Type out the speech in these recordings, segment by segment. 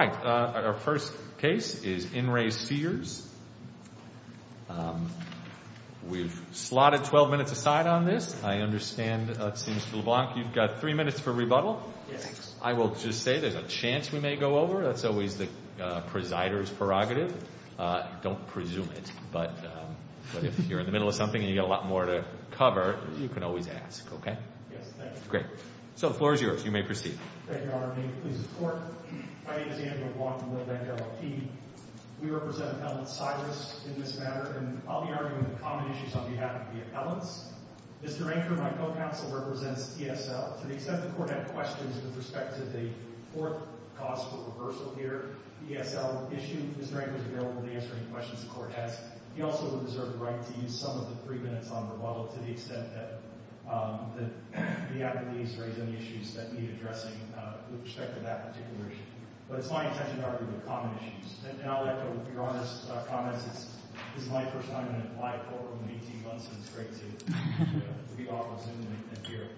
All right. Our first case is in re Sears. We've slotted 12 minutes aside on this. I understand, it seems to LeBlanc, you've got three minutes for rebuttal. I will just say there's a chance we may go over. That's always the presider's prerogative. Don't presume it, but if you're in the middle of something and you've got a lot more to cover, you can always ask, okay? Yes, thank you. Great. So the floor is yours. You may proceed. Thank you. I'm David Blanc from LeBlanc LLP. We represent Appellant Cyrus in this matter, and I'll be arguing the common issues on behalf of the appellants. Mr. Anker, my co-counsel, represents ESL. To the extent the court had questions with respect to the fourth cause for reversal here, the ESL issue, Mr. Anker is available to answer any questions the court has. He also would deserve the right to use some of the three minutes on rebuttal to the extent that the appellant needs to raise any issues that need addressing with respect to that particular issue. But it's my intention to argue the common issues. And I'll let go of your honest comments. This is my first time in an applied courtroom, and A.T. Gunson is great, too. He offers him a beer.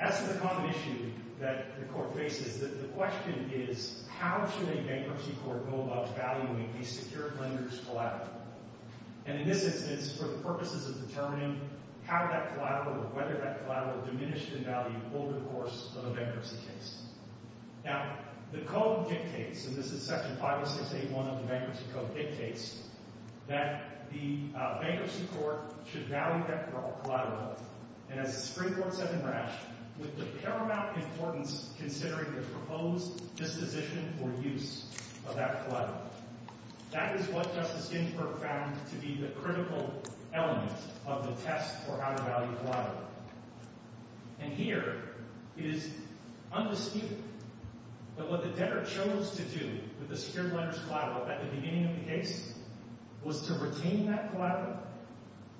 As for the common issue that the court faces, the question is, how should a bankruptcy court go about valuing a secured lender's collateral? And in this instance, for the purposes of determining how that collateral or whether that collateral diminished in value over the course of a bankruptcy case. Now, the code dictates, and this is Section 506.81 of the Bankruptcy Code dictates that the bankruptcy court should value that collateral, and as the Supreme Court said in Rash, with the paramount importance considering the proposed disposition for use of that collateral. That is what Justice And here, it is undisputed that what the debtor chose to do with the secured lender's collateral at the beginning of the case was to retain that collateral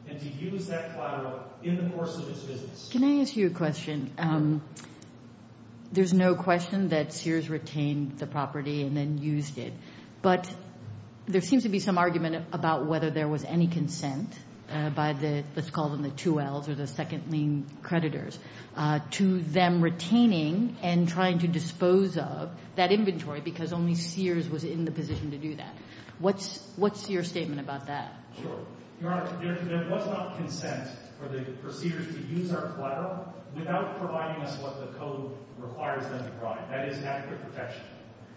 and to use that collateral in the course of its business. Can I ask you a question? There's no question that Sears retained the property and then used it. But there seems to be some argument about whether there was any consent by the, let's call them the 2Ls or the second-lean creditors, to them retaining and trying to dispose of that inventory because only Sears was in the position to do that. What's your statement about that? Sure. Your Honor, there was not consent for the proceeders to use our collateral without providing us what the code requires them to provide. That is adequate protection.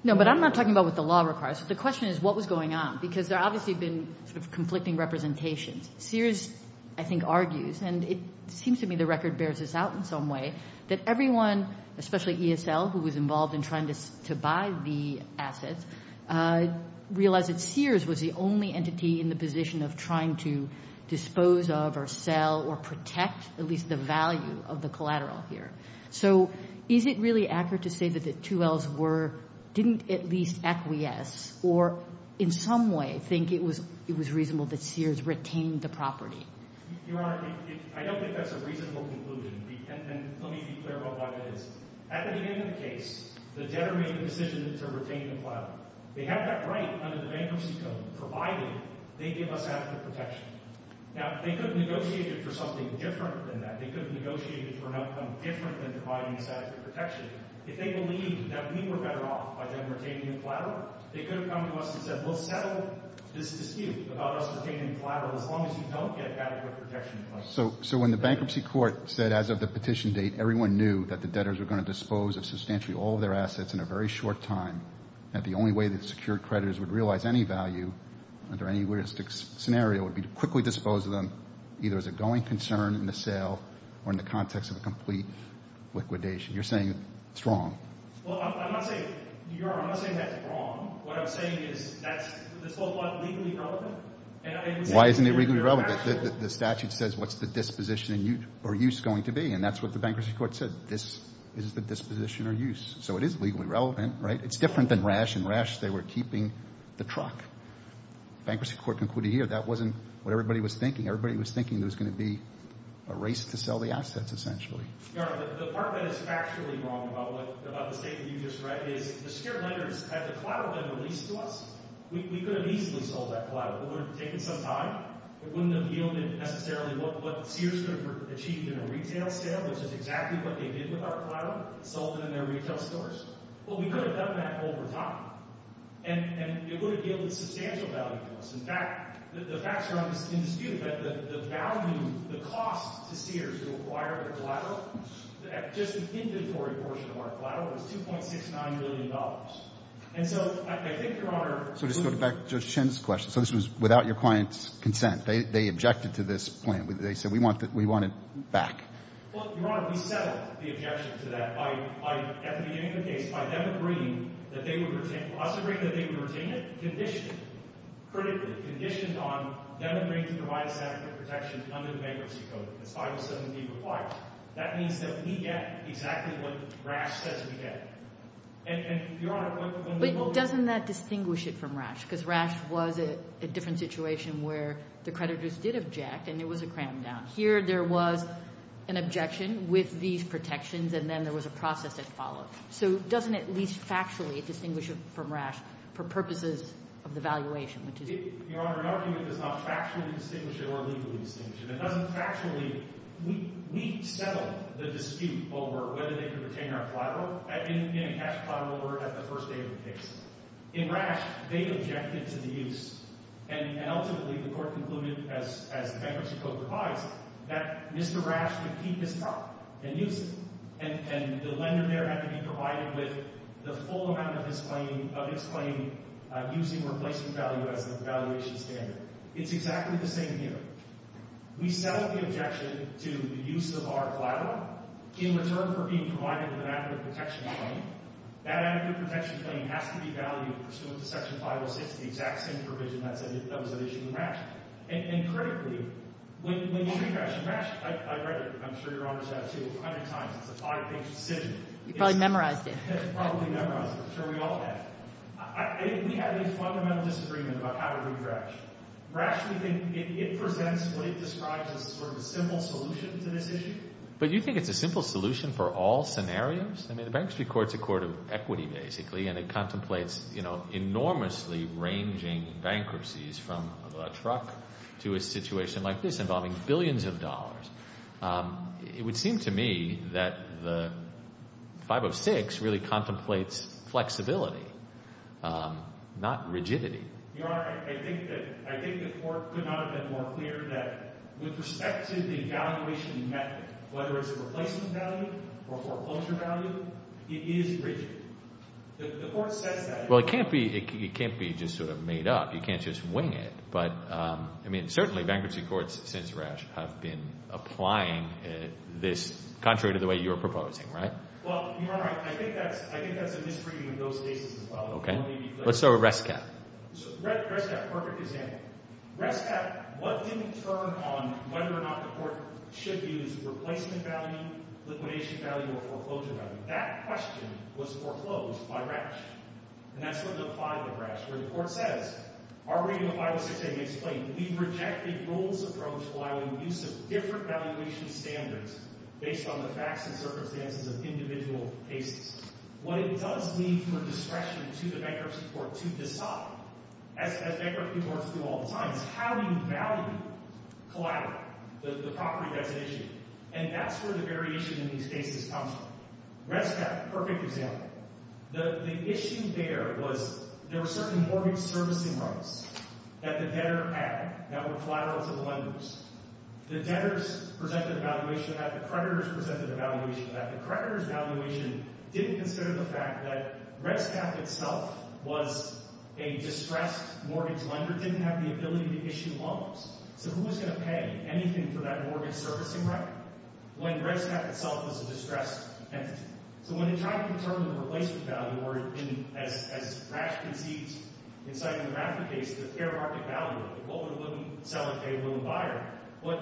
No, but I'm not talking about what the law requires. The question is, what was going because there obviously have been sort of conflicting representations. Sears, I think, argues, and it seems to me the record bears this out in some way, that everyone, especially ESL, who was involved in trying to buy the assets, realized that Sears was the only entity in the position of trying to dispose of or sell or protect at least the value of the collateral here. So is it really accurate to say that the 2Ls didn't at least acquiesce or in some way think it was reasonable that Sears retained the property? Your Honor, I don't think that's a reasonable conclusion, and let me be clear about what it is. At the beginning of the case, the debtor made the decision to retain the collateral. They had that right under the bankruptcy code, provided they give us adequate protection. Now, they could have negotiated for something different than that. If they believed that we were better off by them retaining the collateral, they could have come to us and said, we'll settle this dispute about us retaining the collateral as long as you don't get adequate protection in place. So when the bankruptcy court said as of the petition date everyone knew that the debtors were going to dispose of substantially all of their assets in a very short time, that the only way that secured creditors would realize any value under any realistic scenario would be to quickly dispose of them either as a going concern in the sale or in the context of a complete liquidation. You're saying it's wrong. Well, I'm not saying, Your Honor, I'm not saying that's wrong. What I'm saying is that's the so-called legally relevant. Why isn't it legally relevant? The statute says what's the disposition or use going to be, and that's what the bankruptcy court said. This is the disposition or use. So it is legally relevant, right? It's different than rash and rash. They were keeping the truck. Bankruptcy court concluded here that wasn't what everybody was thinking. Everybody was thinking there was going to be a race to sell the assets, essentially. Your Honor, the part that is factually wrong about the statement you just read is the secured creditors, had the collateral been released to us, we could have easily sold that collateral. It would have taken some time. It wouldn't have yielded necessarily what Sears would have achieved in a retail sale, which is exactly what they did with our collateral, sold it in their retail stores. Well, we could have done that over time, and it would have yielded substantial value to us. In fact, the facts are undisputed that the value, the cost to Sears to acquire the collateral, just the inventory portion of our collateral, was $2.69 million. And so I think, Your Honor — So just going back to Judge Chin's question, so this was without your client's consent. They objected to this plan. They said, we want it back. Well, Your Honor, we settled the objection to that by, at the beginning of the case, by them agreeing that they would retain — us agreeing that they would retain it conditionally. Critically conditioned on them agreeing to provide a standard of protection under the bankruptcy code, as 507B requires. That means that we get exactly what Rash says we get. And, Your Honor — But doesn't that distinguish it from Rash? Because Rash was a different situation where the creditors did object, and it was a cram-down. Here, there was an objection with these protections, and then there was a process that followed. So doesn't it at least factually distinguish it for purposes of the valuation? Your Honor, an argument does not factually distinguish it or legally distinguish it. It doesn't factually — we settled the dispute over whether they could retain our collateral in a cash collateral order at the first day of the case. In Rash, they objected to the use. And ultimately, the court concluded, as the bankruptcy code provides, that Mr. Rash could keep his property and use it. And the lender there had to be provided with the full amount of its claim using replacement value as the valuation standard. It's exactly the same here. We settled the objection to the use of our collateral in return for being provided with an adequate protection claim. That adequate protection claim has to be valued pursuant to Section 506, the exact same provision that was at issue in Rash. And critically, when you see Rash, in Rash — I've read it, I'm sure Your Honor has, too, a hundred times. It's a five-page decision. You probably memorized it. Probably memorized it. I'm sure we all have. We have a fundamental disagreement about how to do Rash. Rash, we think, it presents what it describes as a sort of simple solution to this issue. But you think it's a simple solution for all scenarios? I mean, the Bankruptcy Court's a court of equity, basically, and it contemplates, you know, enormously ranging bankruptcies from a truck to a situation like this involving billions of dollars. It would seem to me that the Court basically contemplates flexibility, not rigidity. Your Honor, I think the Court could not have been more clear that with respect to the evaluation method, whether it's a replacement value or foreclosure value, it is rigid. The Court says that. Well, it can't be just sort of made up. You can't just wing it. But, I mean, certainly, Bankruptcy Courts since Rash have been applying this contrary to the way you're proposing, right? Well, Your Honor, I think that's a misreading of those cases as well. Okay. Let's start with Rescap. Rescap, perfect example. Rescap, what didn't turn on whether or not the Court should use replacement value, liquidation value, or foreclosure value? That question was foreclosed by Rash. And that's what applied to Rash, where the Court says, our reading of 506a makes plain, we rejected rules approach while in use of different valuation standards based on the circumstances of individual cases. What it does leave for discretion to the Bankruptcy Court to decide, as Bankruptcy Courts do all the time, is how you value collateral, the property that's at issue. And that's where the variation in these cases comes from. Rescap, perfect example. The issue there was there were certain mortgage servicing rights that the debtor had that were creditors' valuation. The creditors' valuation didn't consider the fact that Rescap itself was a distressed mortgage lender, didn't have the ability to issue loans. So who was going to pay anything for that mortgage servicing right when Rescap itself was a distressed entity? So when they tried to determine the replacement value, or as Rash conceived, in citing the Raffer case, the fair market value, what would a woman sell if they were a woman buyer? What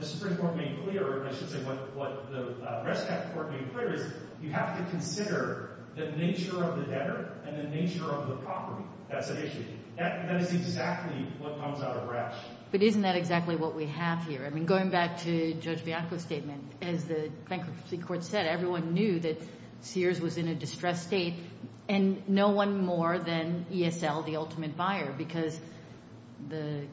the Supreme Court made clear, or I should say what the Rescap Court made clear, is you have to consider the nature of the debtor and the nature of the property that's at issue. That is exactly what comes out of Rash. But isn't that exactly what we have here? I mean, going back to Judge Bianco's statement, as the Bankruptcy Court said, everyone knew that Sears was in a distressed state and no one more than ESL, the ultimate buyer, because the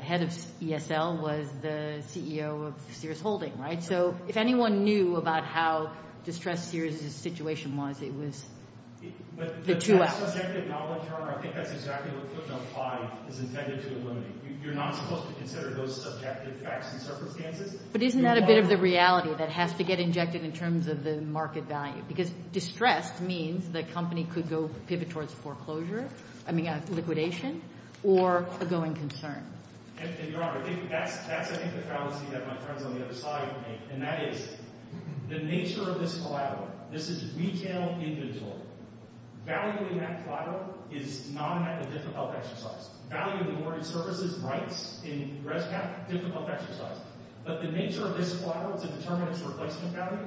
head of ESL was the CEO of Sears Holdings, right? So if anyone knew about how distressed Sears' situation was, it was the two of them. But isn't that a bit of the reality that has to get injected in terms of the market value? Because distressed means the company could go pivot towards foreclosure, I mean liquidation, or a going concern. And Your Honor, that's I think the fallacy that my friends on the other side make, and that is the nature of this collateral. This is retail inventory. Value in that collateral is not a difficult exercise. Value of the awarded services rights in Rescap, difficult exercise. But the nature of this collateral to determine its replacement value,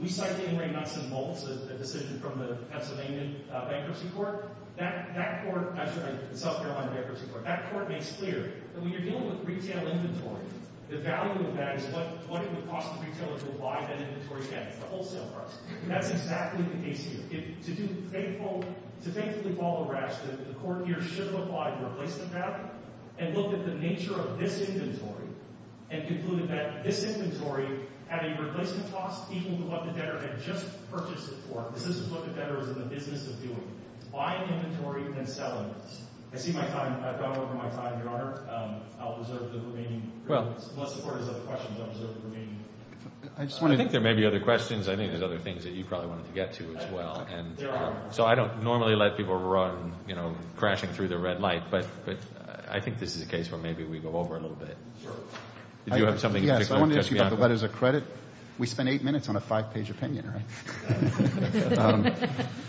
we cite the Ingram-Nuts and Bolts, a decision from the Pennsylvania Bankruptcy Court, that court, I'm sorry, the South Carolina Bankruptcy Court, that court makes clear that when you're dealing with retail inventory, the value of that is what it would cost the retailer to buy that inventory again. It's the wholesale price. That's exactly the case here. To faithfully follow Rash, the court here should have applied a replacement value and looked at the nature of this inventory and concluded that this inventory had a replacement cost equal to what the debtor had just purchased it for. This is what the debtor is in the business of doing. Buying inventory and selling it. I see my time, I've gone over my time, Your Honor. I'll reserve the remaining. Unless the court has other questions, I'll reserve the remaining. I think there may be other questions. I think there's other things that you probably wanted to get to as well. And so I don't normally let people run, you know, crashing through the red light. But I think this is a case where maybe we go over a little bit. Do you have something to add? I want to ask you about the letters of credit. We spent eight minutes on a five-page opinion, right?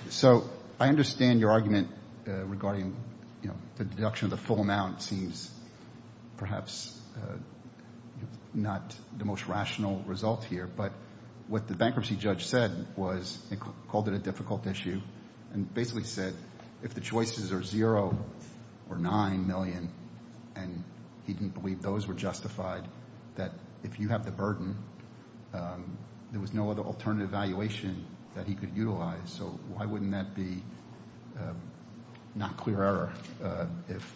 So I understand your argument regarding, you know, the deduction of the full amount seems perhaps not the most rational result here. But what the bankruptcy judge said was, he called it a difficult issue and basically said if the choices are zero or nine million and he didn't believe those were justified, that if you have the burden, there was no other alternative valuation that he could utilize. So why wouldn't that be not clear error? If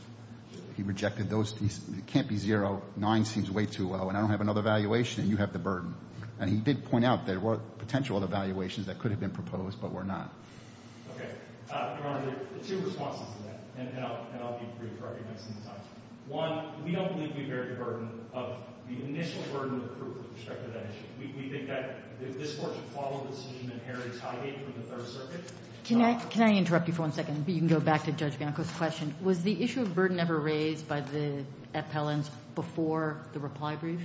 he rejected those, it can't be zero, nine seems way too low, and I don't have another valuation and you have the burden. And he did point out there were potential other valuations that could have been proposed but were not. Okay, Your Honor, there are two responses to that. And I'll be brief. One, we don't believe that we bear the burden of the initial burden of the proof with respect to that issue. We think that if this Court should follow the decision that Herod is hiding from the Third Circuit. Can I interrupt you for one second? You can go back to Judge Bianco's question. Was the issue of burden ever raised by the appellants before the reply brief?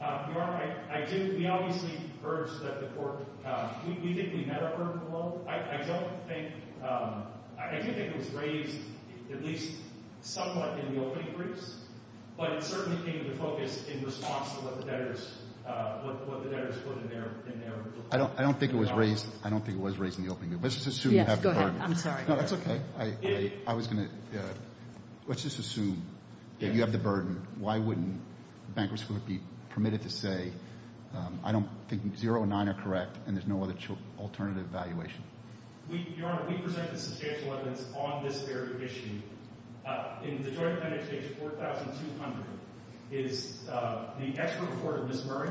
Your Honor, I do — we obviously urge that the Court — we think we met our burden below. I don't think — I do think it was raised at least somewhat in the opening briefs, but it certainly came into focus in response to what the debtors put in there. I don't think it was raised. I don't think it was raised in the opening. Let's just assume — Yes, go ahead. I'm sorry. No, that's okay. I was going to — let's just assume that you have the burden. Why wouldn't bankruptcy be permitted to say, I don't think zero and nine are correct and there's no other alternative valuation? Your Honor, we presented substantial evidence on this very issue. In the Joint Appendix, page 4200, is the expert report of Ms. Murray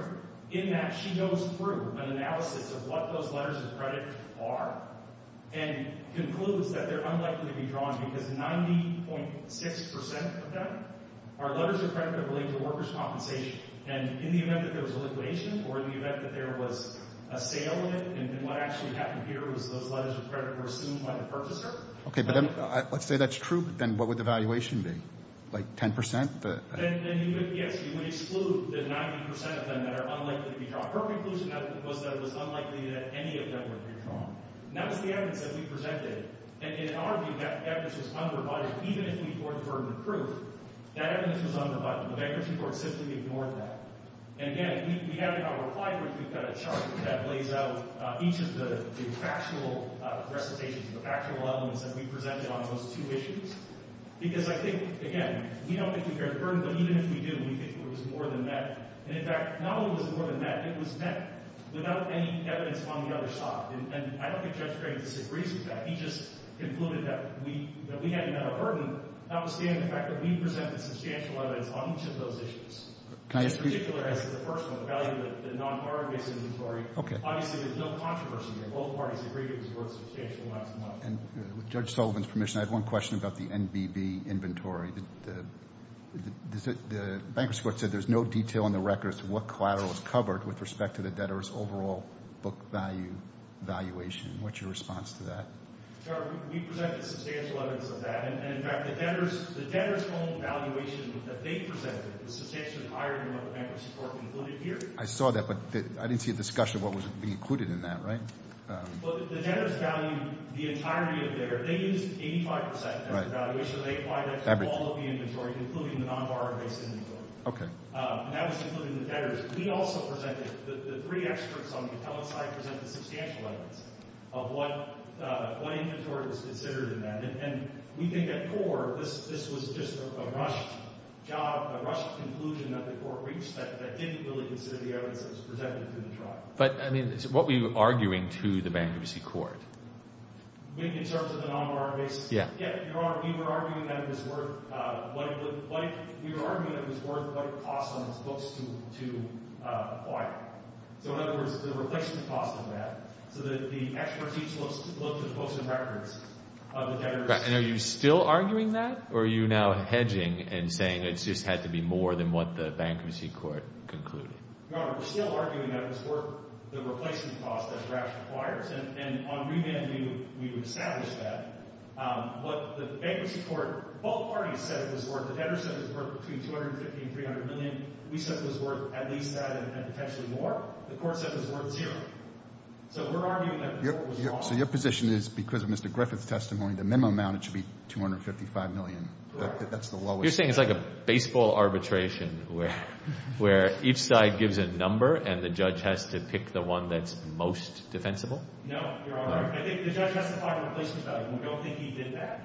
in that she goes through an analysis of what those letters of credit are and concludes that they're unlikely to be drawn because 90.6 percent of them are letters of credit that relate to workers' compensation, and in the event that there was a liquidation or in the event that there was a sale in it, and what actually happened here was those letters of credit were assumed by the purchaser — Okay, but let's say that's true, but then what would the valuation be? Like 10 percent? Then, yes, you would exclude the 90 percent of them that are unlikely to be drawn. Her conclusion was that it was unlikely that any of them would be drawn, and that was the evidence that we presented. And in our view, that evidence was under-rebutted. Even if we were to burden the proof, that evidence was under-rebutted. The bankruptcy court simply ignored that. And again, we have in our reply brief, we've got a chart that lays out each of the factual recitations, the factual elements that we presented on those two issues, because I think, again, we don't think we bear the burden, but even if we do, we think there was more than that. And in fact, not only was it more than that, it was met without any evidence on the other side. And I don't think Judge Crane disagrees with that. He just concluded that we hadn't met a burden, notwithstanding the fact that we presented substantial evidence on each of those issues. In particular, as to the first one, the value of the non-farm-based inventory, obviously there's no controversy there. Both parties agreed it was worth substantial amounts of money. And with Judge Sullivan's permission, I have one question about the NBB inventory. The bankruptcy court said there's no detail in the records to what collateral was covered with respect to the debtors' overall book value valuation. What's your response to that? Sir, we presented substantial evidence of that. And in fact, the debtors' own valuation that they presented was substantially higher than what the bankruptcy court concluded here. I saw that, but I didn't see a discussion of what was being included in that, right? Well, the debtors' value, the entirety of their, they used 85 percent as a valuation. They applied that to all of the inventory, including the non-farm-based inventory. Okay. And that was including the debtors'. We also presented, the three experts on the account side presented substantial evidence of what inventory was considered in that. And we think at core, this was just a rushed job, a rushed conclusion that the court reached that didn't really consider the evidence that was presented to the tribe. But, I mean, what were you arguing to the bankruptcy court? Maybe in terms of the non-farm-based? Yeah. Yeah, Your Honor, we were arguing that it was worth, what it looked like, we were arguing that it was worth what it costs on its books to acquire. So in other words, the replacement cost of that, so that the experts each looked at books and records of the debtors. And are you still arguing that, or are you now hedging and saying it just had to be more than what the bankruptcy court concluded? Your Honor, we're still arguing that it was worth the replacement cost that RAPS requires. And on revamping, we've established that. What the bankruptcy court, both parties said it was worth, the debtors' said it was worth between $250 and $300 million. We said it was worth at least that and potentially more. The court said it was worth zero. So we're arguing that the court was wrong. So your position is, because of Mr. Griffith's testimony, the minimum amount, it should be $255 million. That's the lowest. You're saying it's like a baseball arbitration, where each side gives a number and the judge has to pick the one that's most defensible? No, Your Honor, I think the judge has to find a replacement value, and we don't think he did that.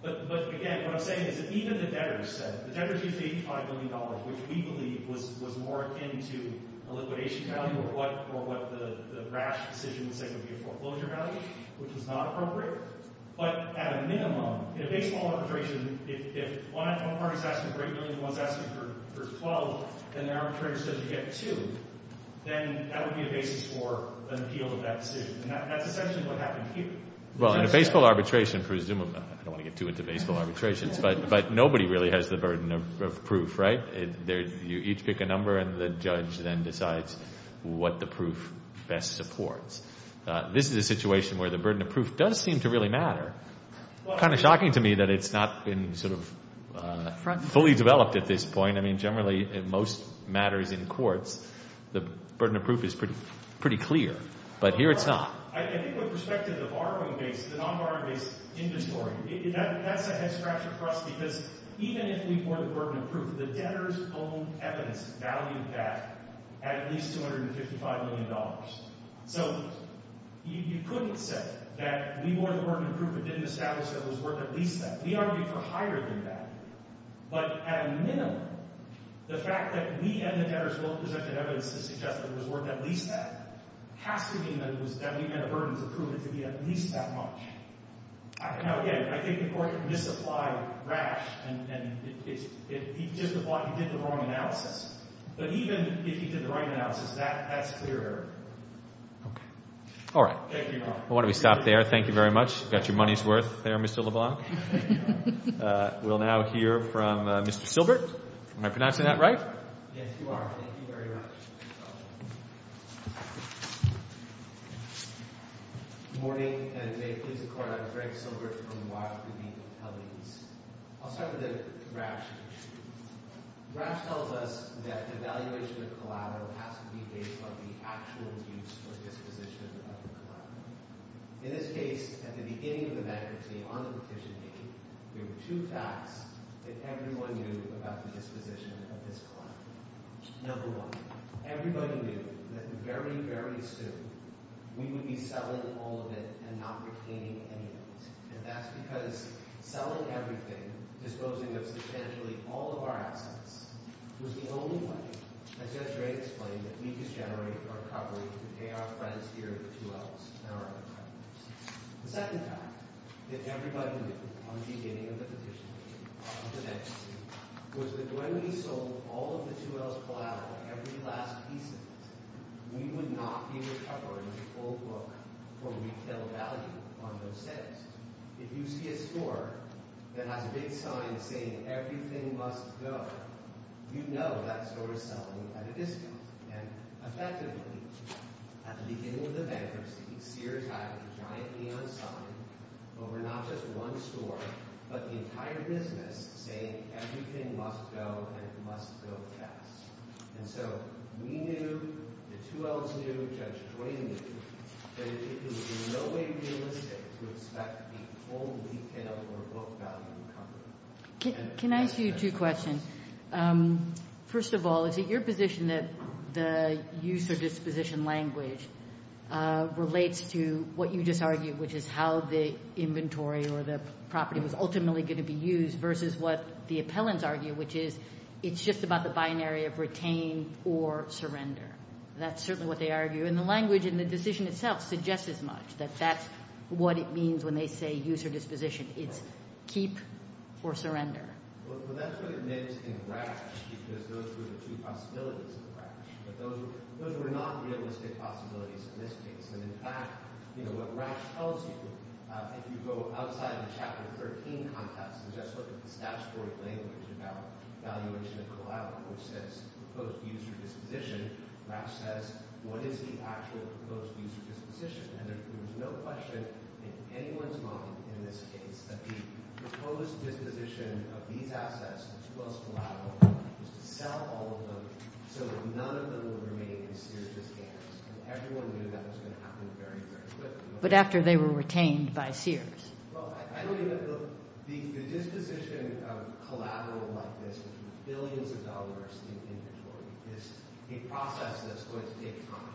But again, what I'm saying is that even the debtors said, the debtors used $85 million, which we believe was more akin to a liquidation value or what the RAPS decision would say would be a foreclosure value, which is not appropriate. But at a minimum, in a baseball arbitration, if one party is asking for $8 million and one is asking for $12 million, and the arbitrator says you get $2 million, then that would be a basis for an appeal of that decision. And that's essentially what happened here. Well, in a baseball arbitration, presumably, I don't want to get too into baseball arbitrations, but nobody really has the burden of proof, right? You each pick a number and the judge then decides what the proof best supports. This is a situation where the burden of proof does seem to really matter. Kind of shocking to me that it's not been sort of fully developed at this point. I mean, generally, most matters in courts, the burden of proof is pretty clear, but here it's not. I think with respect to the non-borrowing-based inventory, that's a head-scratcher for us, because even if we bore the burden of proof, the debtors' own evidence valued that at least $255 million. So you couldn't say that we bore the burden of proof and didn't establish that it was worth at least that. We argue for higher than that. But at a minimum, the fact that we and the debtors both presented evidence that suggested it was worth at least that has to mean that we had a burden of proof to be at least that much. Now, again, I think the court can misapply rash, and he did the wrong analysis. But even if he did the right analysis, that's clear. Okay. All right. Thank you, Your Honor. Why don't we stop there? Thank you very much. You got your money's worth there, Mr. LeBlanc. We'll now hear from Mr. Silbert. Am I pronouncing that right? Yes, you are. Thank you very much. Good morning, and may it please the Court, I'm Frank Silbert from the Wildwood League of Hellies. I'll start with a rash issue. Rash tells us that evaluation of collateral has to be based on the actual use or disposition of the collateral. In this case, at the beginning of the bankruptcy, on the petition date, there were two facts that everyone knew about the disposition of this We would be selling all of it and not retaining any of it. And that's because selling everything, disposing of substantially all of our assets, was the only way, as Judge Ray explained, that we could generate recovery to pay our friends here at the 2Ls and our other partners. The second fact that everybody knew on the beginning of the petition date, on the bankruptcy, was that when we sold all of the 2Ls' collateral, every last piece of it, we would not be recovering full book for retail value on those settings. If you see a store that has a big sign saying everything must go, you know that store is selling at a discount. And effectively, at the beginning of the bankruptcy, Sears had a giant neon sign over not just one store, but the entire business, saying everything must go and must go fast. And so we knew, the 2Ls knew, Judge Ray knew, that it would be in no way realistic to expect the full retail or book value recovery. Can I ask you two questions? First of all, is it your position that the use or disposition language relates to what you just argued, which is how the inventory or the property was ultimately going to be used, versus what the appellants argue, which is it's just about the binary of retain or surrender? That's certainly what they argue. And the language and the decision itself suggests as much, that that's what it means when they say use or disposition. It's keep or surrender. Well, that's what it meant in RATCH, because those were the two possibilities of RATCH. But those were not realistic possibilities in this case. And in fact, you know, what RATCH tells you, if you go outside the Chapter 13 context and just look at the disposition of collateral, which says proposed use or disposition, RATCH says, what is the actual proposed use or disposition? And there was no question in anyone's mind in this case that the proposed disposition of these assets, the 2Ls collateral, was to sell all of them so that none of them would remain in Sears' hands. And everyone knew that was going to happen very, very quickly. But after they were retained by Sears. Well, I don't even, look, the disposition of collateral like this, billions of dollars in inventory, is a process that's going to take time,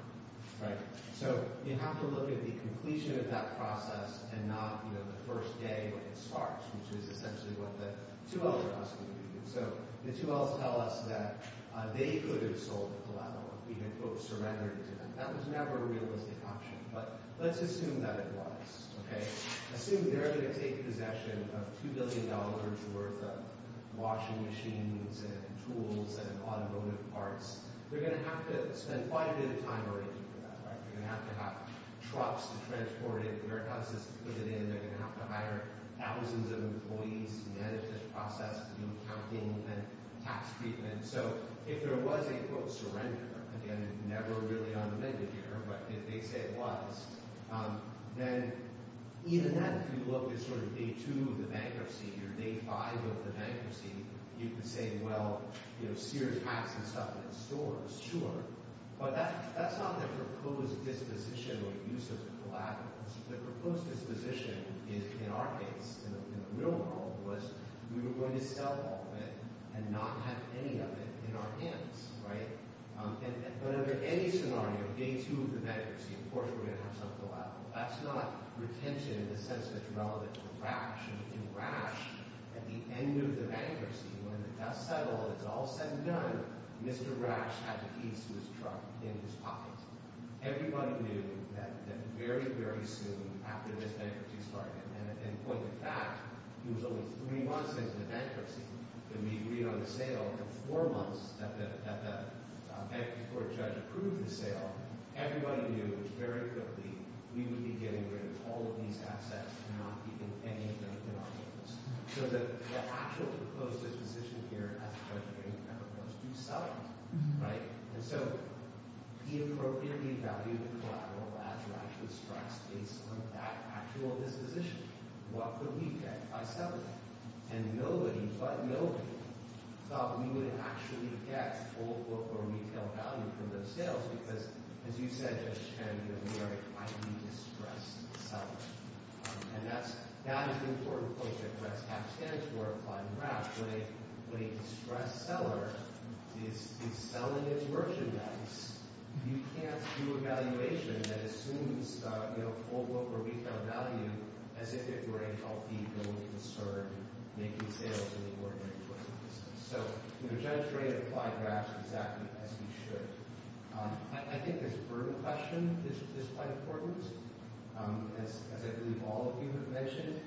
right? So you have to look at the completion of that process and not, you know, the first day when it starts, which is essentially what the 2Ls are asking you to do. So the 2Ls tell us that they could have sold the collateral if we had, quote, surrendered it to them. That was never a realistic option, but let's assume that it was, okay? Assume they're going to take possession of $2 billion worth of washing machines and tools and automotive parts. They're going to have to spend quite a bit of time arranging for that, right? They're going to have to have trucks to transport it. The Veritas is to put it in. They're going to have to hire thousands of employees to manage this process, do accounting and tax treatment. So if there was a, quote, surrender, again, never really on the menu here, but if they say it was, then even that, if you look, is sort of day two of the bankruptcy, you can say, well, you know, Sears packs and stuff in the stores, sure, but that's not the proposed disposition or use of collateral. The proposed disposition is, in our case, in the real world, was we were going to sell all of it and not have any of it in our hands, right? But under any scenario, day two of the bankruptcy, of course we're going to have some collateral. That's not retention in the sense that it's relevant to Ratch. In Ratch, at the end of the bankruptcy, when the dust settled, it's all said and done, Mr. Ratch had the piece of his truck in his pocket. Everybody knew that very, very soon after this bankruptcy started, and in point of fact, it was only three months into the bankruptcy that we agreed on the sale, the four months that the bankruptcy court judge approved the sale, everybody knew very quickly we would be getting rid of all of these assets and not keeping any of them in our hands. So the actual proposed disposition here, as I mentioned, was to sell it, right? And so, he appropriately valued the collateral as Ratch would strike states on that actual disposition. What could we get by selling it? And nobody but nobody thought we would actually get full book or retail value from those sales, because, as you said, Judge Chen, we are a highly distressed seller, and that is an important point that Ratch stands for, applying Ratch. When a distressed seller is selling his merchandise, you can't do a valuation that assumes full book or retail value as if it were a healthy, going, discerned, making sales in the sense we should. I think this burden question is quite important, as I believe all of you have mentioned.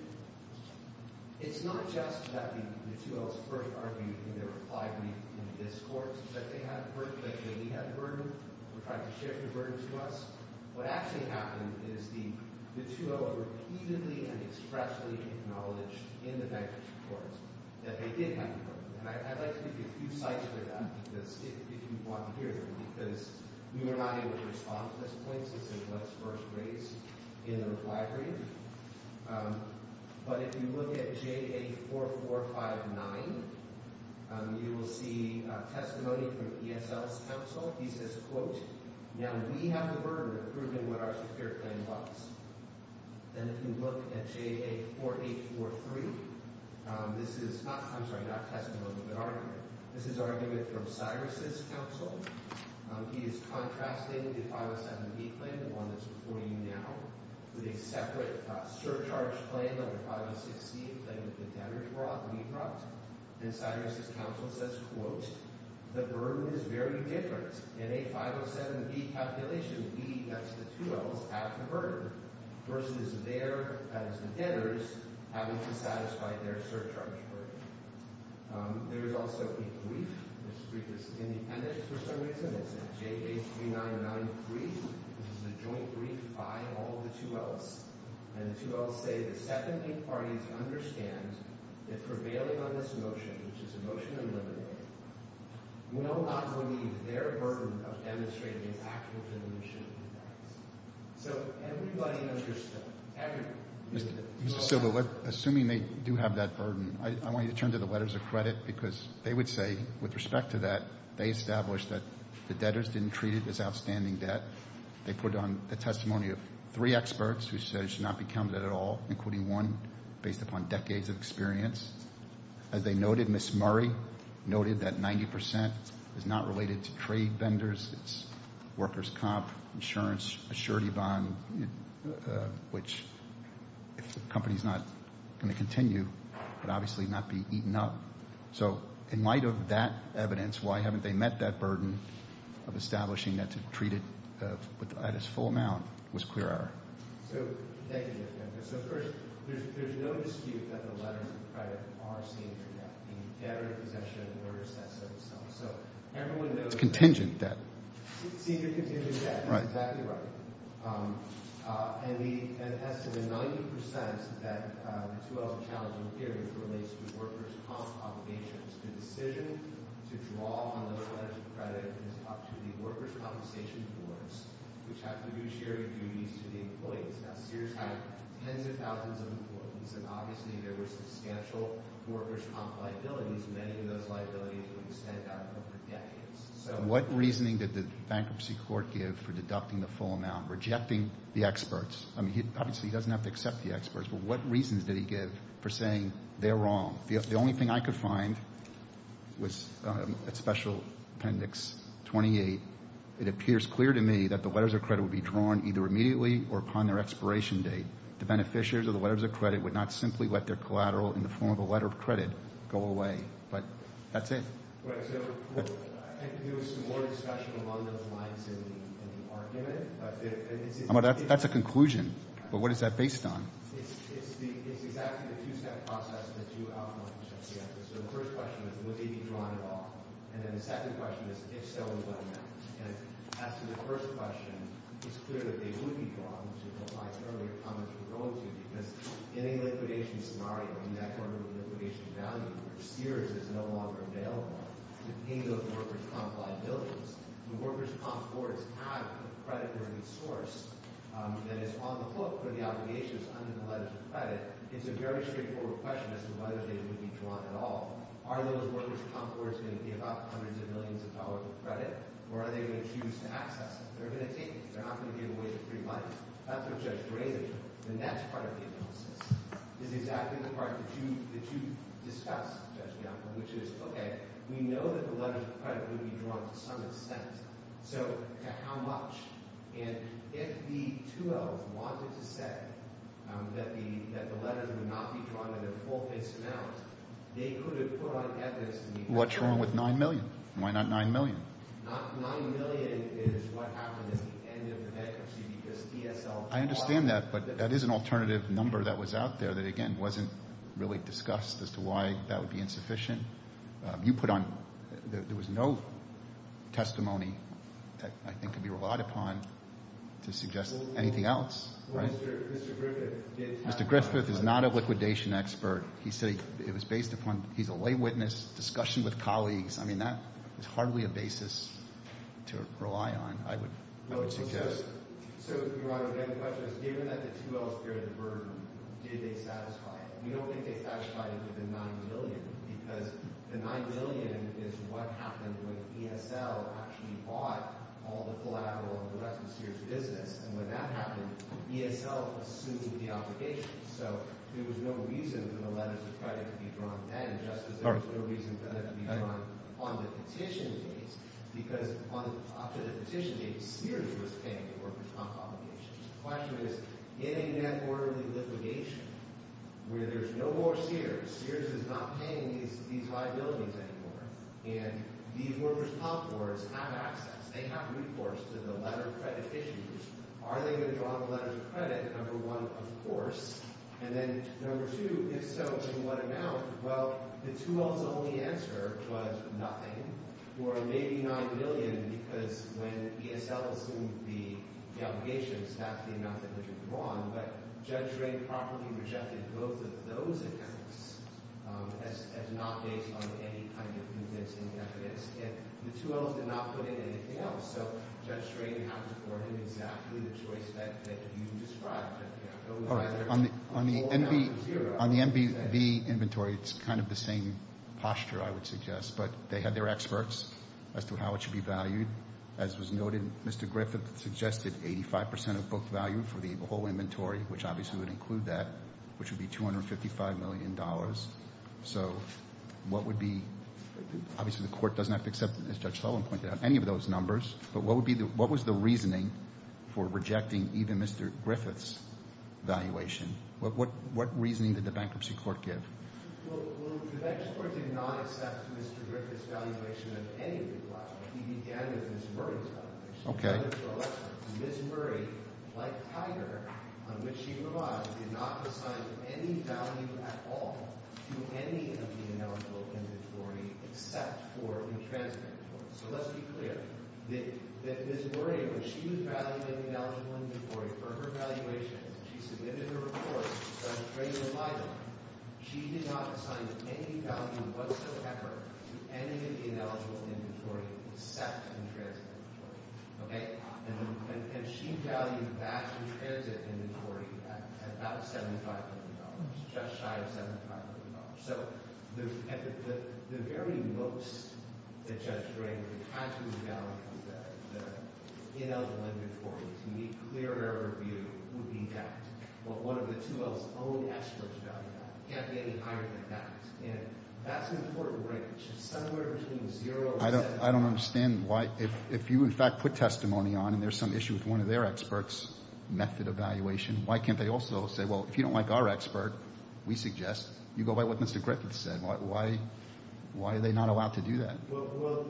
It's not just that the 2Ls first argued in their reply brief in this court that they had a burden, that we had a burden, or tried to shift the burden to us. What actually happened is the 2L repeatedly and expressly acknowledged in the bankruptcy court that they did have a burden. And I'd like to give you a few slides for that, if you want to hear them, because we were not able to respond to this point since it was first raised in the reply brief. But if you look at J.A. 4459, you will see testimony from ESL's counsel. He says, quote, now we have a burden of proving what our secure claim was. And if you look at J.A. 4843, this is not—I'm sorry, not testimony, but argument. This is argument from Cyrus' counsel. He is contrasting the 507B claim, the one that's before you now, with a separate surcharge claim, number 506C, a claim that the debtors were off-lead route. And Cyrus' counsel says, quote, the burden is very different. In a 507B calculation, we, that's the 2Ls, have the burden versus their, that is the debtors, having to satisfy their surcharge burden. There is also a brief. This brief is independent for some reason. It's a J.A. 399 brief. This is a joint brief by all the 2Ls. And the 2Ls say the second eight parties understand that prevailing on this motion, which is a motion to eliminate, will not believe their burden of demonstrating its actual diminution of the debts. So everybody understood. Everybody. Mr. Silva, assuming they do have that burden, I want you to turn to the letters of credit, because they would say, with respect to that, they established that the debtors didn't treat it as outstanding debt. They put on the testimony of three experts who said it should not be counted at all, including one based upon decades of experience. As they noted, Ms. Murray noted that 90 percent is not related to trade vendors. It's workers' comp, insurance, a surety bond, which, if the company is not going to continue, would obviously not be eaten up. So, in light of that evidence, why haven't they met that burden of establishing that to treat it at its full amount was clear error. So, thank you, Mr. Femke. So, first, there's no dispute that the letters of credit are senior debt. The debtor in possession orders that sort of stuff. So, everyone knows— It's contingent debt. Senior contingent debt. That's exactly right. And as to the 90 percent that the 2012 challenging period relates to workers' comp obligations, the decision to draw on those letters of credit is up to the workers' compensation boards, which have fiduciary duties to the employees. Now, Sears had tens of thousands of employees, and obviously there were substantial workers' comp liabilities. Many of those liabilities would extend out over decades. What reasoning did the bankruptcy court give for deducting the full amount, rejecting the experts? I mean, obviously he doesn't have to accept the experts, but what reasons did he give for saying they're wrong? The only thing I could find was a special appendix 28. It appears clear to me that the letters of credit would be drawn either immediately or upon their expiration date. The beneficiaries of the letters of credit would not simply let their collateral in the form of a letter of credit go away. But that's it. I think there was some more discussion along those lines in the argument. That's a conclusion, but what is that based on? It's exactly the two-step process and the two outcomes. So the first question is, would they be drawn at all? And then the second question is, if so, what now? And as to the first question, it's clear that they would be drawn, which was implied earlier, because in a liquidation scenario, in that order of liquidation value, Sears is no longer available to pay those workers' comp liabilities. The workers' comp boards have a credit-worthy source that is on the book, but the obligation is under the letters of credit. It's a very straightforward question as to whether they would be drawn at all. Are those workers' comp boards going to give up hundreds of millions of dollars of credit, or are they going to choose to access it? They're going to take it. They're not going to give away the free money. That's what Judge Gray said, and that's part of the analysis. It's exactly the part that you discussed, Judge Bianco, which is, okay, we know that the letters of credit would be drawn to some extent. So to how much? And if the 2Ls wanted to say that the letters would not be drawn in a full-face amount, they could have put on evidence. What's wrong with $9 million? Why not $9 million? $9 million is what happened at the end of the bankruptcy because DSL- I understand that, but that is an alternative number that was out there that, again, wasn't really discussed as to why that would be insufficient. You put on – there was no testimony that I think could be relied upon to suggest anything else. Mr. Griffith did- Mr. Griffith is not a liquidation expert. He said it was based upon – he's a lay witness, discussion with colleagues. I mean, that is hardly a basis to rely on, I would suggest. So, Your Honor, again, the question is, given that the 2Ls feared the burden, did they satisfy it? We don't think they satisfied it with the $9 million because the $9 million is what happened when DSL actually bought all the collateral of the rest of Sears' business. And when that happened, DSL assumed the obligation. So, there was no reason for the letters of credit to be drawn then just as there was no reason for them to be drawn on the petition case because up to the petition case, Sears was paying the workers' comp obligations. The question is, in a net orderly litigation where there's no more Sears, Sears is not paying these liabilities anymore, and these workers' comp boards have access, they have recourse to the letter of credit issues, are they going to draw the letter of credit, number one, of course? And then, number two, if so, in what amount? Well, the 2Ls' only answer was nothing or maybe $9 million because when DSL assumed the obligation, that's the amount that was drawn, but Judge Drain properly rejected both of those accounts as not based on any kind of convincing evidence. And the 2Ls did not put in anything else. So, Judge Drain had to afford him exactly the choice that you described. On the MVV inventory, it's kind of the same posture, I would suggest, but they had their experts as to how it should be valued. As was noted, Mr. Griffith suggested 85% of book value for the whole inventory, which obviously would include that, which would be $255 million. So, what would be – obviously the court doesn't have to accept, as Judge Sullivan pointed out, any of those numbers, but what was the reasoning for rejecting even Mr. Griffith's valuation? What reasoning did the bankruptcy court give? Well, the bankruptcy court did not accept Mr. Griffith's valuation of any book value. He began with Ms. Murray's valuation. Ms. Murray, like Tiger, on which she relied, did not assign any value at all to any of the ineligible inventory except for the transmittable. So, let's be clear that Ms. Murray, when she was valuing the ineligible inventory for her valuation, she submitted a report, which Judge Dragan relied on. She did not assign any value whatsoever to any of the ineligible inventory except the transmittable. Okay? And she valued that transit inventory at about $75 million, just shy of $75 million. So, the very most that Judge Dragan had to evaluate was that the ineligible inventory, to me, clear error of view, would be that. Well, what if the 2L's own experts value that? It can't be any higher than that. And that's an important break, which is somewhere between zero and seven. I don't understand why – if you, in fact, put testimony on and there's some issue with one of their experts' method of valuation, why can't they also say, well, if you don't like our expert, we suggest. You go by what Mr. Griffiths said. Why are they not allowed to do that? Well,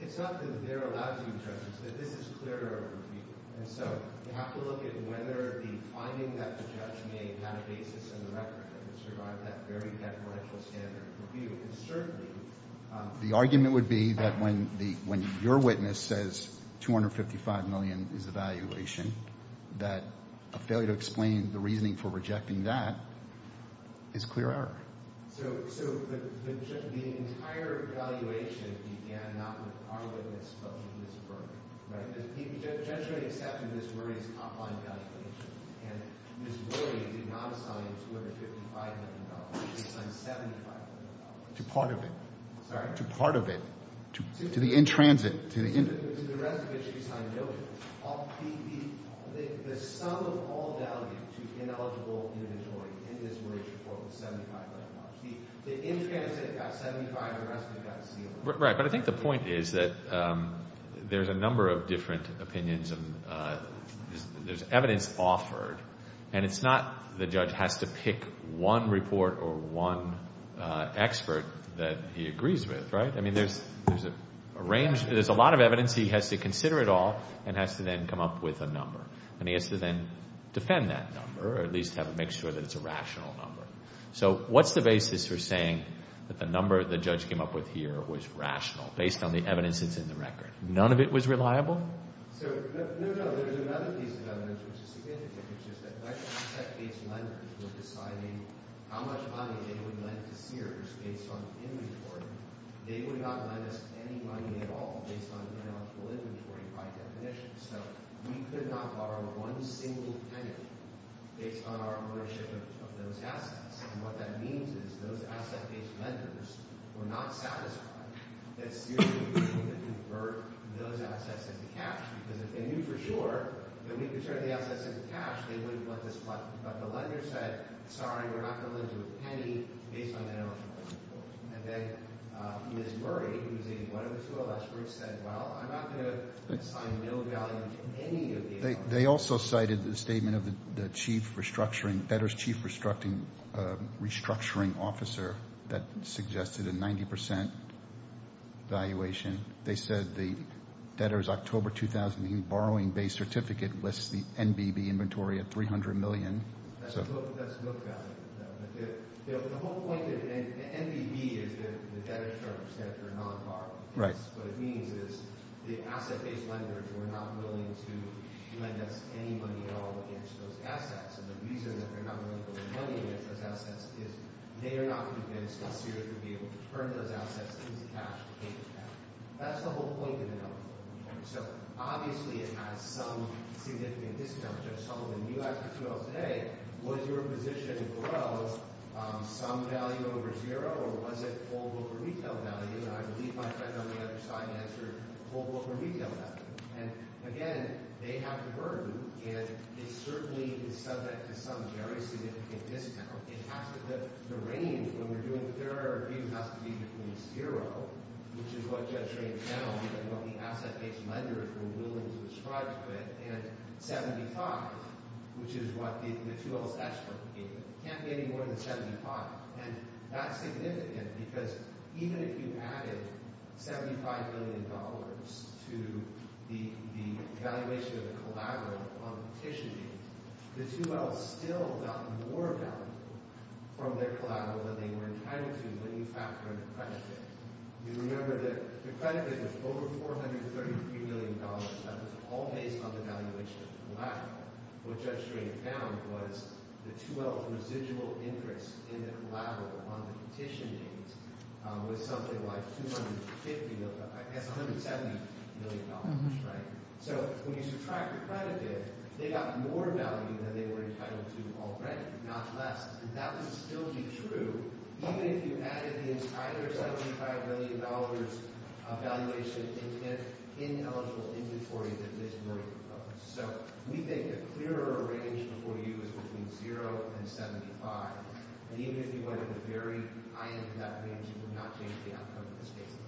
it's not that they're allowed to be judges. This is clear error of view. And so, you have to look at whether the finding that the judge made had a basis in the record and it survived that very deferential standard review. And certainly, the argument would be that when your witness says $255 million is the valuation, that a failure to explain the reasoning for rejecting that is clear error. So the entire valuation began not with our witness, but with Ms. Berger, right? The judge only accepted Ms. Murray's top-line valuation. And Ms. Murray did not assign $255 million. She assigned $75 million. To part of it. Sorry? To part of it. To the in transit. To the rest of it, she assigned a million. The sum of all value to ineligible inventory in Ms. Murray's report was $75 million. The in transit got $75 million. The rest of it got zero. Right. But I think the point is that there's a number of different opinions. There's evidence offered. And it's not the judge has to pick one report or one expert that he agrees with, right? I mean, there's a range. There's a lot of evidence. He has to consider it all and has to then come up with a number. And he has to then defend that number or at least make sure that it's a rational number. So what's the basis for saying that the number the judge came up with here was rational based on the evidence that's in the record? None of it was reliable? No, no. There's another piece of evidence which is significant, which is that if asset-based lenders were deciding how much money they would lend to Sears based on inventory, they would not lend us any money at all based on ineligible inventory by definition. So we could not borrow one single penny based on our ownership of those assets. And what that means is those asset-based lenders were not satisfied that Sears would be able to convert those assets into cash because if they knew for sure that we could turn the assets into cash, they wouldn't want this money. But the lender said, sorry, we're not going to lend you a penny based on ineligible inventory. And then Ms. Murray, who was a one of the two experts, said, well, I'm not going to assign no value to any of these. They also cited the statement of the debtor's chief restructuring officer that suggested a 90% valuation. They said the debtor's October 2008 borrowing-based certificate lists the NBB inventory at $300 million. That's a book value. But the whole point of the NBB is the debtor's chart for a non-borrowing case. What it means is the asset-based lenders were not willing to lend us any money at all against those assets. And the reason that they're not willing to lend money against those assets is they are not going to be able to convince Sears to be able to turn those assets into cash. That's the whole point of the NBB. So, obviously, it has some significant discount. Judge Sullivan, you asked the two of us today, was your position growth some value over zero, or was it holdover retail value? And I believe my friend on the other side answered holdover retail value. And, again, they have the burden, and it certainly is subject to some very significant discount. It has to – the range, when we're doing a fair review, has to be between zero, which is what Judge Raines found, and what the asset-based lenders were willing to subscribe to it, and 75, which is what the two of us actually gave them. It can't be any more than 75. And that's significant because even if you added $75 million to the valuation of the collateral on petitioning, the 2Ls still got more value from their collateral than they were entitled to when you factored the credited. You remember that the credited was over $433 million. That was all based on the valuation of the collateral. What Judge Raines found was the 2L's residual interest in the collateral on the petitioning was something like $250 – I guess $170 million, right? So when you subtract the credited, they got more value than they were entitled to already, not less. And that would still be true even if you added the entire $75 million valuation in eligible inventory that Ms. Murray proposed. So we think a clearer range before you is between zero and 75. And even if you went to the very high end of that range, it would not change the outcome of this case at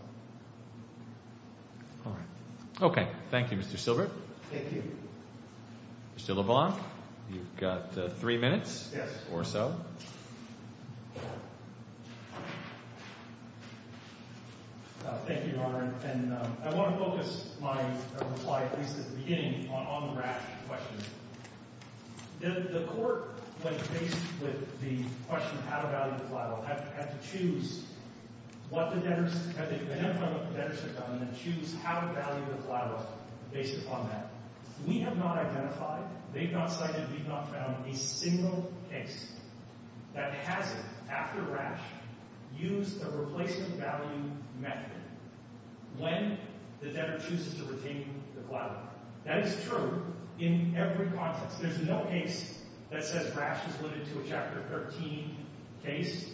all. All right. Okay. Thank you, Mr. Silbert. Thank you. Mr. LeBlanc, you've got three minutes or so. Yes. Thank you, Your Honor. And I want to focus my reply, at least at the beginning, on the Rasch question. The court, like, faced with the question of how to value the collateral, had to choose what the debtors – had to identify what the debtors had done and then choose how to value the collateral based upon that. We have not identified – they've not cited, we've not found a single case that hasn't, after Rasch, used a replacement value method. When the debtor chooses to retain the collateral. That is true in every context. There's no case that says Rasch is limited to a Chapter 13 case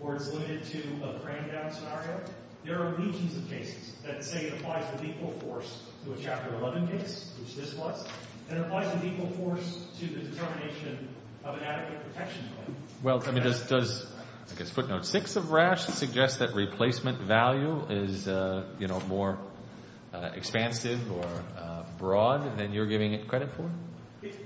or is limited to a cram-down scenario. There are legions of cases that say it applies with equal force to a Chapter 11 case, which this was, and it applies with equal force to the determination of an adequate protection claim. Well, I mean, does, I guess, footnote 6 of Rasch suggest that replacement value is, you know, more expansive or broad than you're giving it credit for?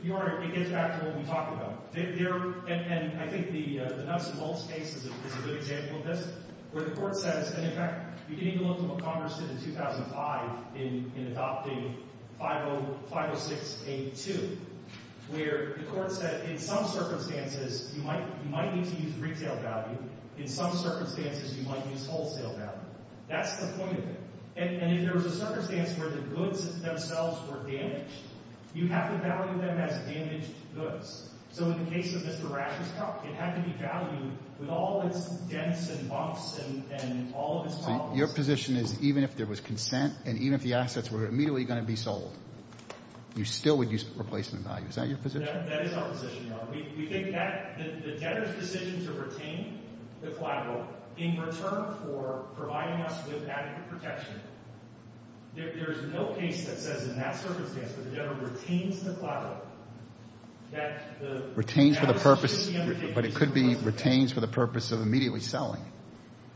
Your Honor, it gets back to what we talked about. There – and I think the Knutson-Boltz case is a good example of this, where the court says – and, in fact, you can even look at what Congress did in 2005 in adopting 506-82, where the court said in some circumstances you might need to use retail value. In some circumstances you might use wholesale value. That's the point of it. And if there was a circumstance where the goods themselves were damaged, you have to value them as damaged goods. So in the case of Mr. Rasch's truck, it had to be valued with all its dents and bumps and all of its problems. So your position is even if there was consent and even if the assets were immediately going to be sold, you still would use replacement value. Is that your position? Your Honor, we think that the debtor's decision to retain the collateral in return for providing us with adequate protection, there is no case that says in that circumstance that the debtor retains the collateral, that the – Retains for the purpose – but it could be retains for the purpose of immediately selling.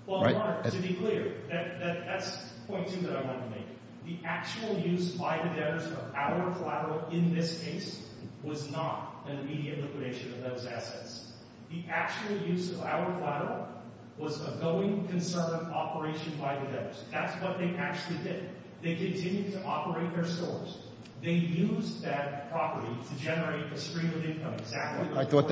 Well, Your Honor, to be clear, that's point two that I want to make. The actual use by the debtors of our collateral in this case was not an immediate liquidation of those assets. The actual use of our collateral was a going concern operation by the debtors. That's what they actually did. They continued to operate their stores. They used that property to generate a stream of income. I thought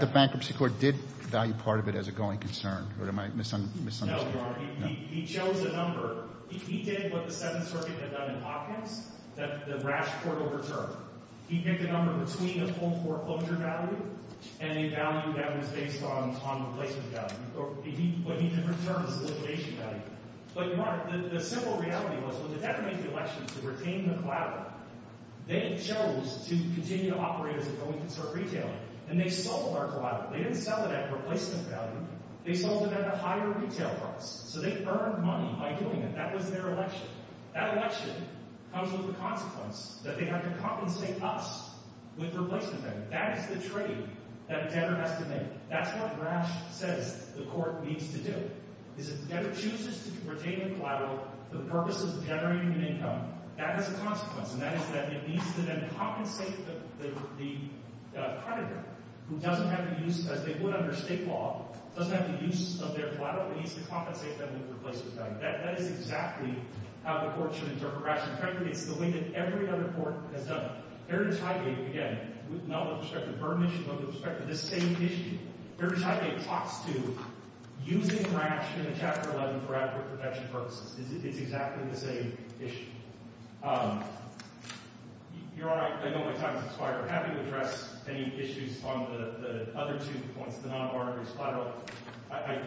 the bankruptcy court did value part of it as a going concern. Or am I misunderstanding? No, Your Honor. He chose a number. He did what the Seventh Circuit had done in pockets, that the rash court overturned. He picked a number between a full foreclosure value and a value that was based on replacement value. He put it in different terms, liquidation value. But, Your Honor, the simple reality was when the debtor made the election to retain the collateral, they chose to continue to operate as a going concern retail. And they sold our collateral. They didn't sell it at replacement value. They sold it at a higher retail price. So they earned money by doing it. That was their election. That election comes with the consequence that they have to compensate us with replacement value. That is the trade that a debtor has to make. That's what rash says the court needs to do, is if the debtor chooses to retain the collateral for the purpose of generating an income, that has a consequence. And that is that it needs to then compensate the creditor who doesn't have the use, as they would under state law, doesn't have the use of their collateral. It needs to compensate them with replacement value. That is exactly how the court should interpret rash. In fact, it's the way that every other court has done it. Heritage Highgate, again, not with respect to Burmish, but with respect to this same issue, Heritage Highgate talks to using rash in the Chapter 11 for adequate protection purposes. It's exactly the same issue. Your Honor, I know my time has expired. I'm happy to address any issues on the other two points. The non-barter is collateral.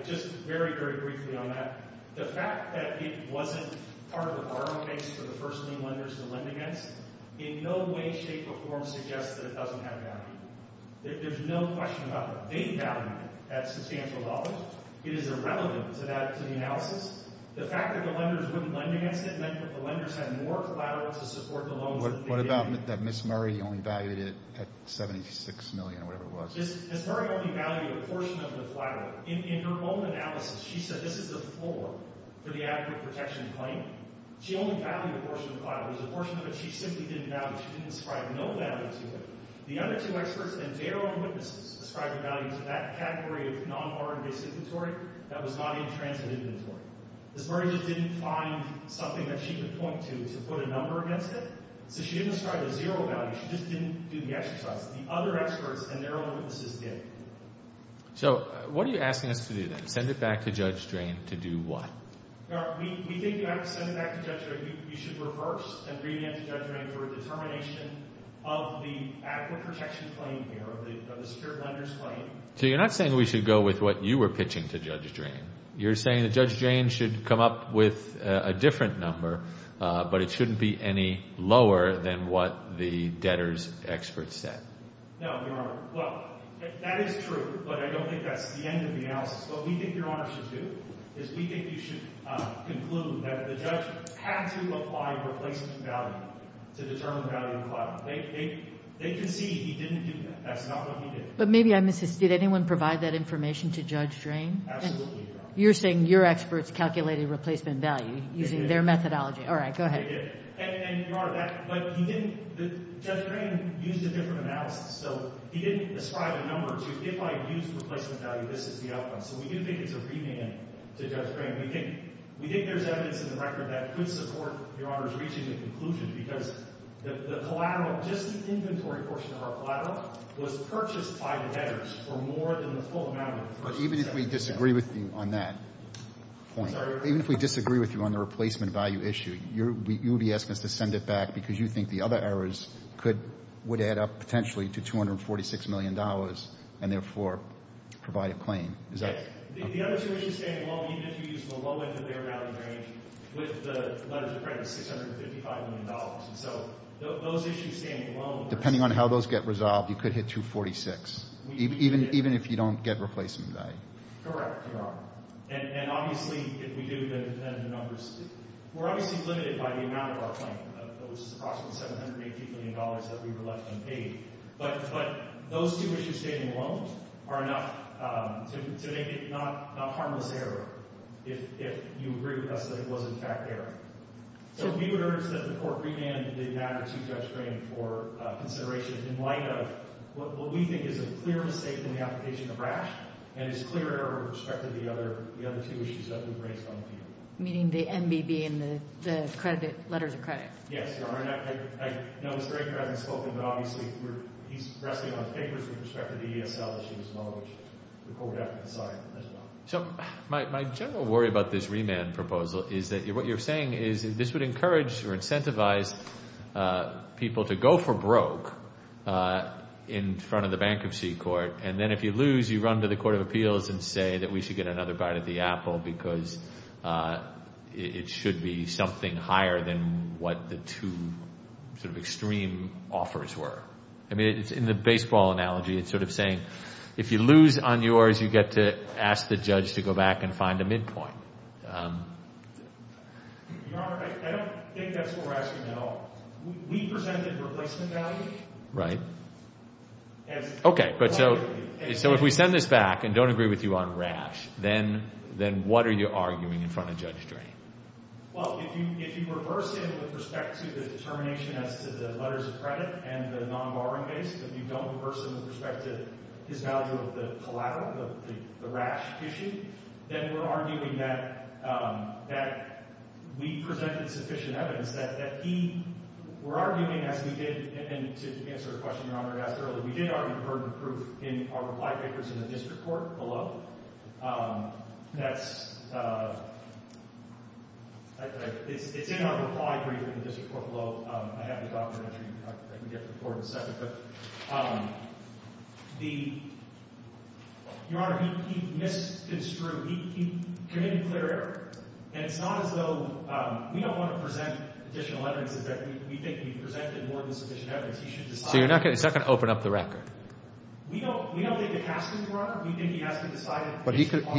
Just very, very briefly on that. The fact that it wasn't part of the borrowing base for the first-name lenders to lend against, in no way, shape, or form suggests that it doesn't have value. There's no question about that. They value it at substantial dollars. It is irrelevant to the analysis. The fact that the lenders wouldn't lend against it meant that the lenders had more collateral to support the loans that they did. What about that Ms. Murray only valued it at $76 million or whatever it was? Ms. Murray only valued a portion of the collateral. In her own analysis, she said this is the floor for the adequate protection claim. She only valued a portion of the collateral. There's a portion of it she simply didn't value. She didn't ascribe no value to it. The other two experts and their own witnesses ascribed a value to that category of non-barter-based inventory that was not in transit inventory. Ms. Murray just didn't find something that she could point to to put a number against it, so she didn't ascribe a zero value. She just didn't do the exercise. The other experts and their own witnesses did. So what are you asking us to do then? Send it back to Judge Drain to do what? We think you have to send it back to Judge Drain. You should reverse and bring it back to Judge Drain for a determination of the adequate protection claim here, of the spirit lenders claim. So you're not saying we should go with what you were pitching to Judge Drain. You're saying that Judge Drain should come up with a different number, but it shouldn't be any lower than what the debtors' experts said. No, Your Honor. Well, that is true, but I don't think that's the end of the analysis. What we think Your Honor should do is we think you should conclude that the judge had to apply replacement value to determine value of collateral. They concede he didn't do that. That's not what he did. But maybe I'm assisting. Did anyone provide that information to Judge Drain? Absolutely, Your Honor. You're saying your experts calculated replacement value using their methodology. All right. Go ahead. They did. And, Your Honor, that – but you didn't – Judge Drain used a different analysis. So he didn't ascribe a number to if I use replacement value, this is the outcome. So we do think it's a remand to Judge Drain. We think there's evidence in the record that could support Your Honor's reaching a conclusion because the collateral, just the inventory portion of our collateral, was purchased by the debtors for more than the full amount of it. But even if we disagree with you on that point, even if we disagree with you on the replacement value issue, you would be asking us to send it back because you think the other errors could – would add up potentially to $246 million and, therefore, provide a claim. Is that – The other two issues standing alone, even if you use the low-income bear value range with the letters of credit, $655 million. And so those issues standing alone – Depending on how those get resolved, you could hit 246. Even if you don't get replacement value. Correct, Your Honor. And obviously, if we do, then the numbers – we're obviously limited by the amount of our claim, which is approximately $718 million that we were left unpaid. But those two issues standing alone are enough to make it not a harmless error if you agree with us that it was, in fact, an error. So we would urge that the court remand the magnitude of that claim for consideration in light of what we think is a clear mistake in the application of RASH and is clear error with respect to the other two issues that we've raised on the field. Meaning the MBB and the credit – letters of credit. Yes, Your Honor. And I know Mr. Aker hasn't spoken, but obviously, he's resting on his fingers with respect to the ESL issues alone, which the court would have to decide as well. So my general worry about this remand proposal is that what you're saying is this would encourage or incentivize people to go for broke in front of the bankruptcy court. And then if you lose, you run to the court of appeals and say that we should get another bite of the apple because it should be something higher than what the two sort of extreme offers were. I mean, in the baseball analogy, it's sort of saying if you lose on yours, you get to ask the judge to go back and find a midpoint. Your Honor, I don't think that's what we're asking at all. We presented replacement value. Right. Okay. So if we send this back and don't agree with you on RASH, then what are you arguing in front of Judge Drain? Well, if you reverse him with respect to the determination as to the letters of credit and the non-borrowing base, if you don't reverse him with respect to his value of the collateral, the RASH issue, then we're arguing that we presented sufficient evidence that he – we're arguing, as we did – and to answer a question Your Honor asked earlier, we did argue pertinent proof in our reply papers in the district court below. That's – it's in our reply brief in the district court below. I have the document that I can get to the court in a second. But the – Your Honor, he misconstrued – he committed clear error. And it's not as though – we don't want to present additional evidence that we think we presented more than sufficient evidence. So you're not going to – it's not going to open up the record? We don't think it has to, Your Honor. We think he has to decide on the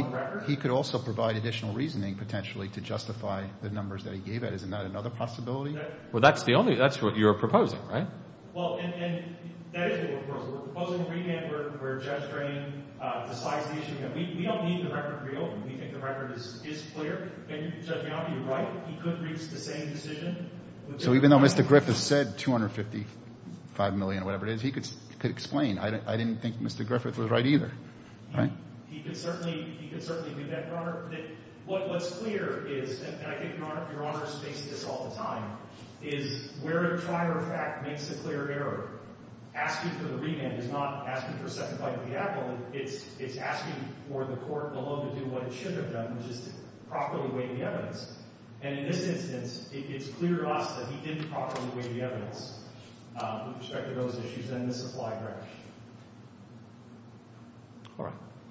record. But he could also provide additional reasoning, potentially, to justify the numbers that he gave. That is not another possibility. Well, that's the only – that's what you're proposing, right? Well, and that is what we're proposing. We're proposing a remand where Judge Drain decides the issue. We don't need the record to be open. We think the record is clear. And Judge Yoffe, you're right. He could reach the same decision. So even though Mr. Griffith said $255 million or whatever it is, he could explain. I didn't think Mr. Griffith was right either, right? He could certainly do that, Your Honor. What's clear is – and I think Your Honor has faced this all the time – is where a prior fact makes a clear error. Asking for the remand is not asking for a second bite of the apple. It's asking for the court alone to do what it should have done, which is to properly weigh the evidence. And in this instance, it's clear to us that he didn't properly weigh the evidence with respect to those issues. And this is why, Your Honor.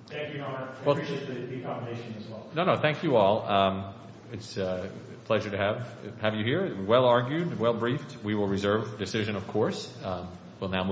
Thank you, Your Honor. I appreciate the accommodation as well. No, no. Thank you all. It's a pleasure to have you here. Well argued, well briefed. We will reserve the decision, of course. We'll now move on.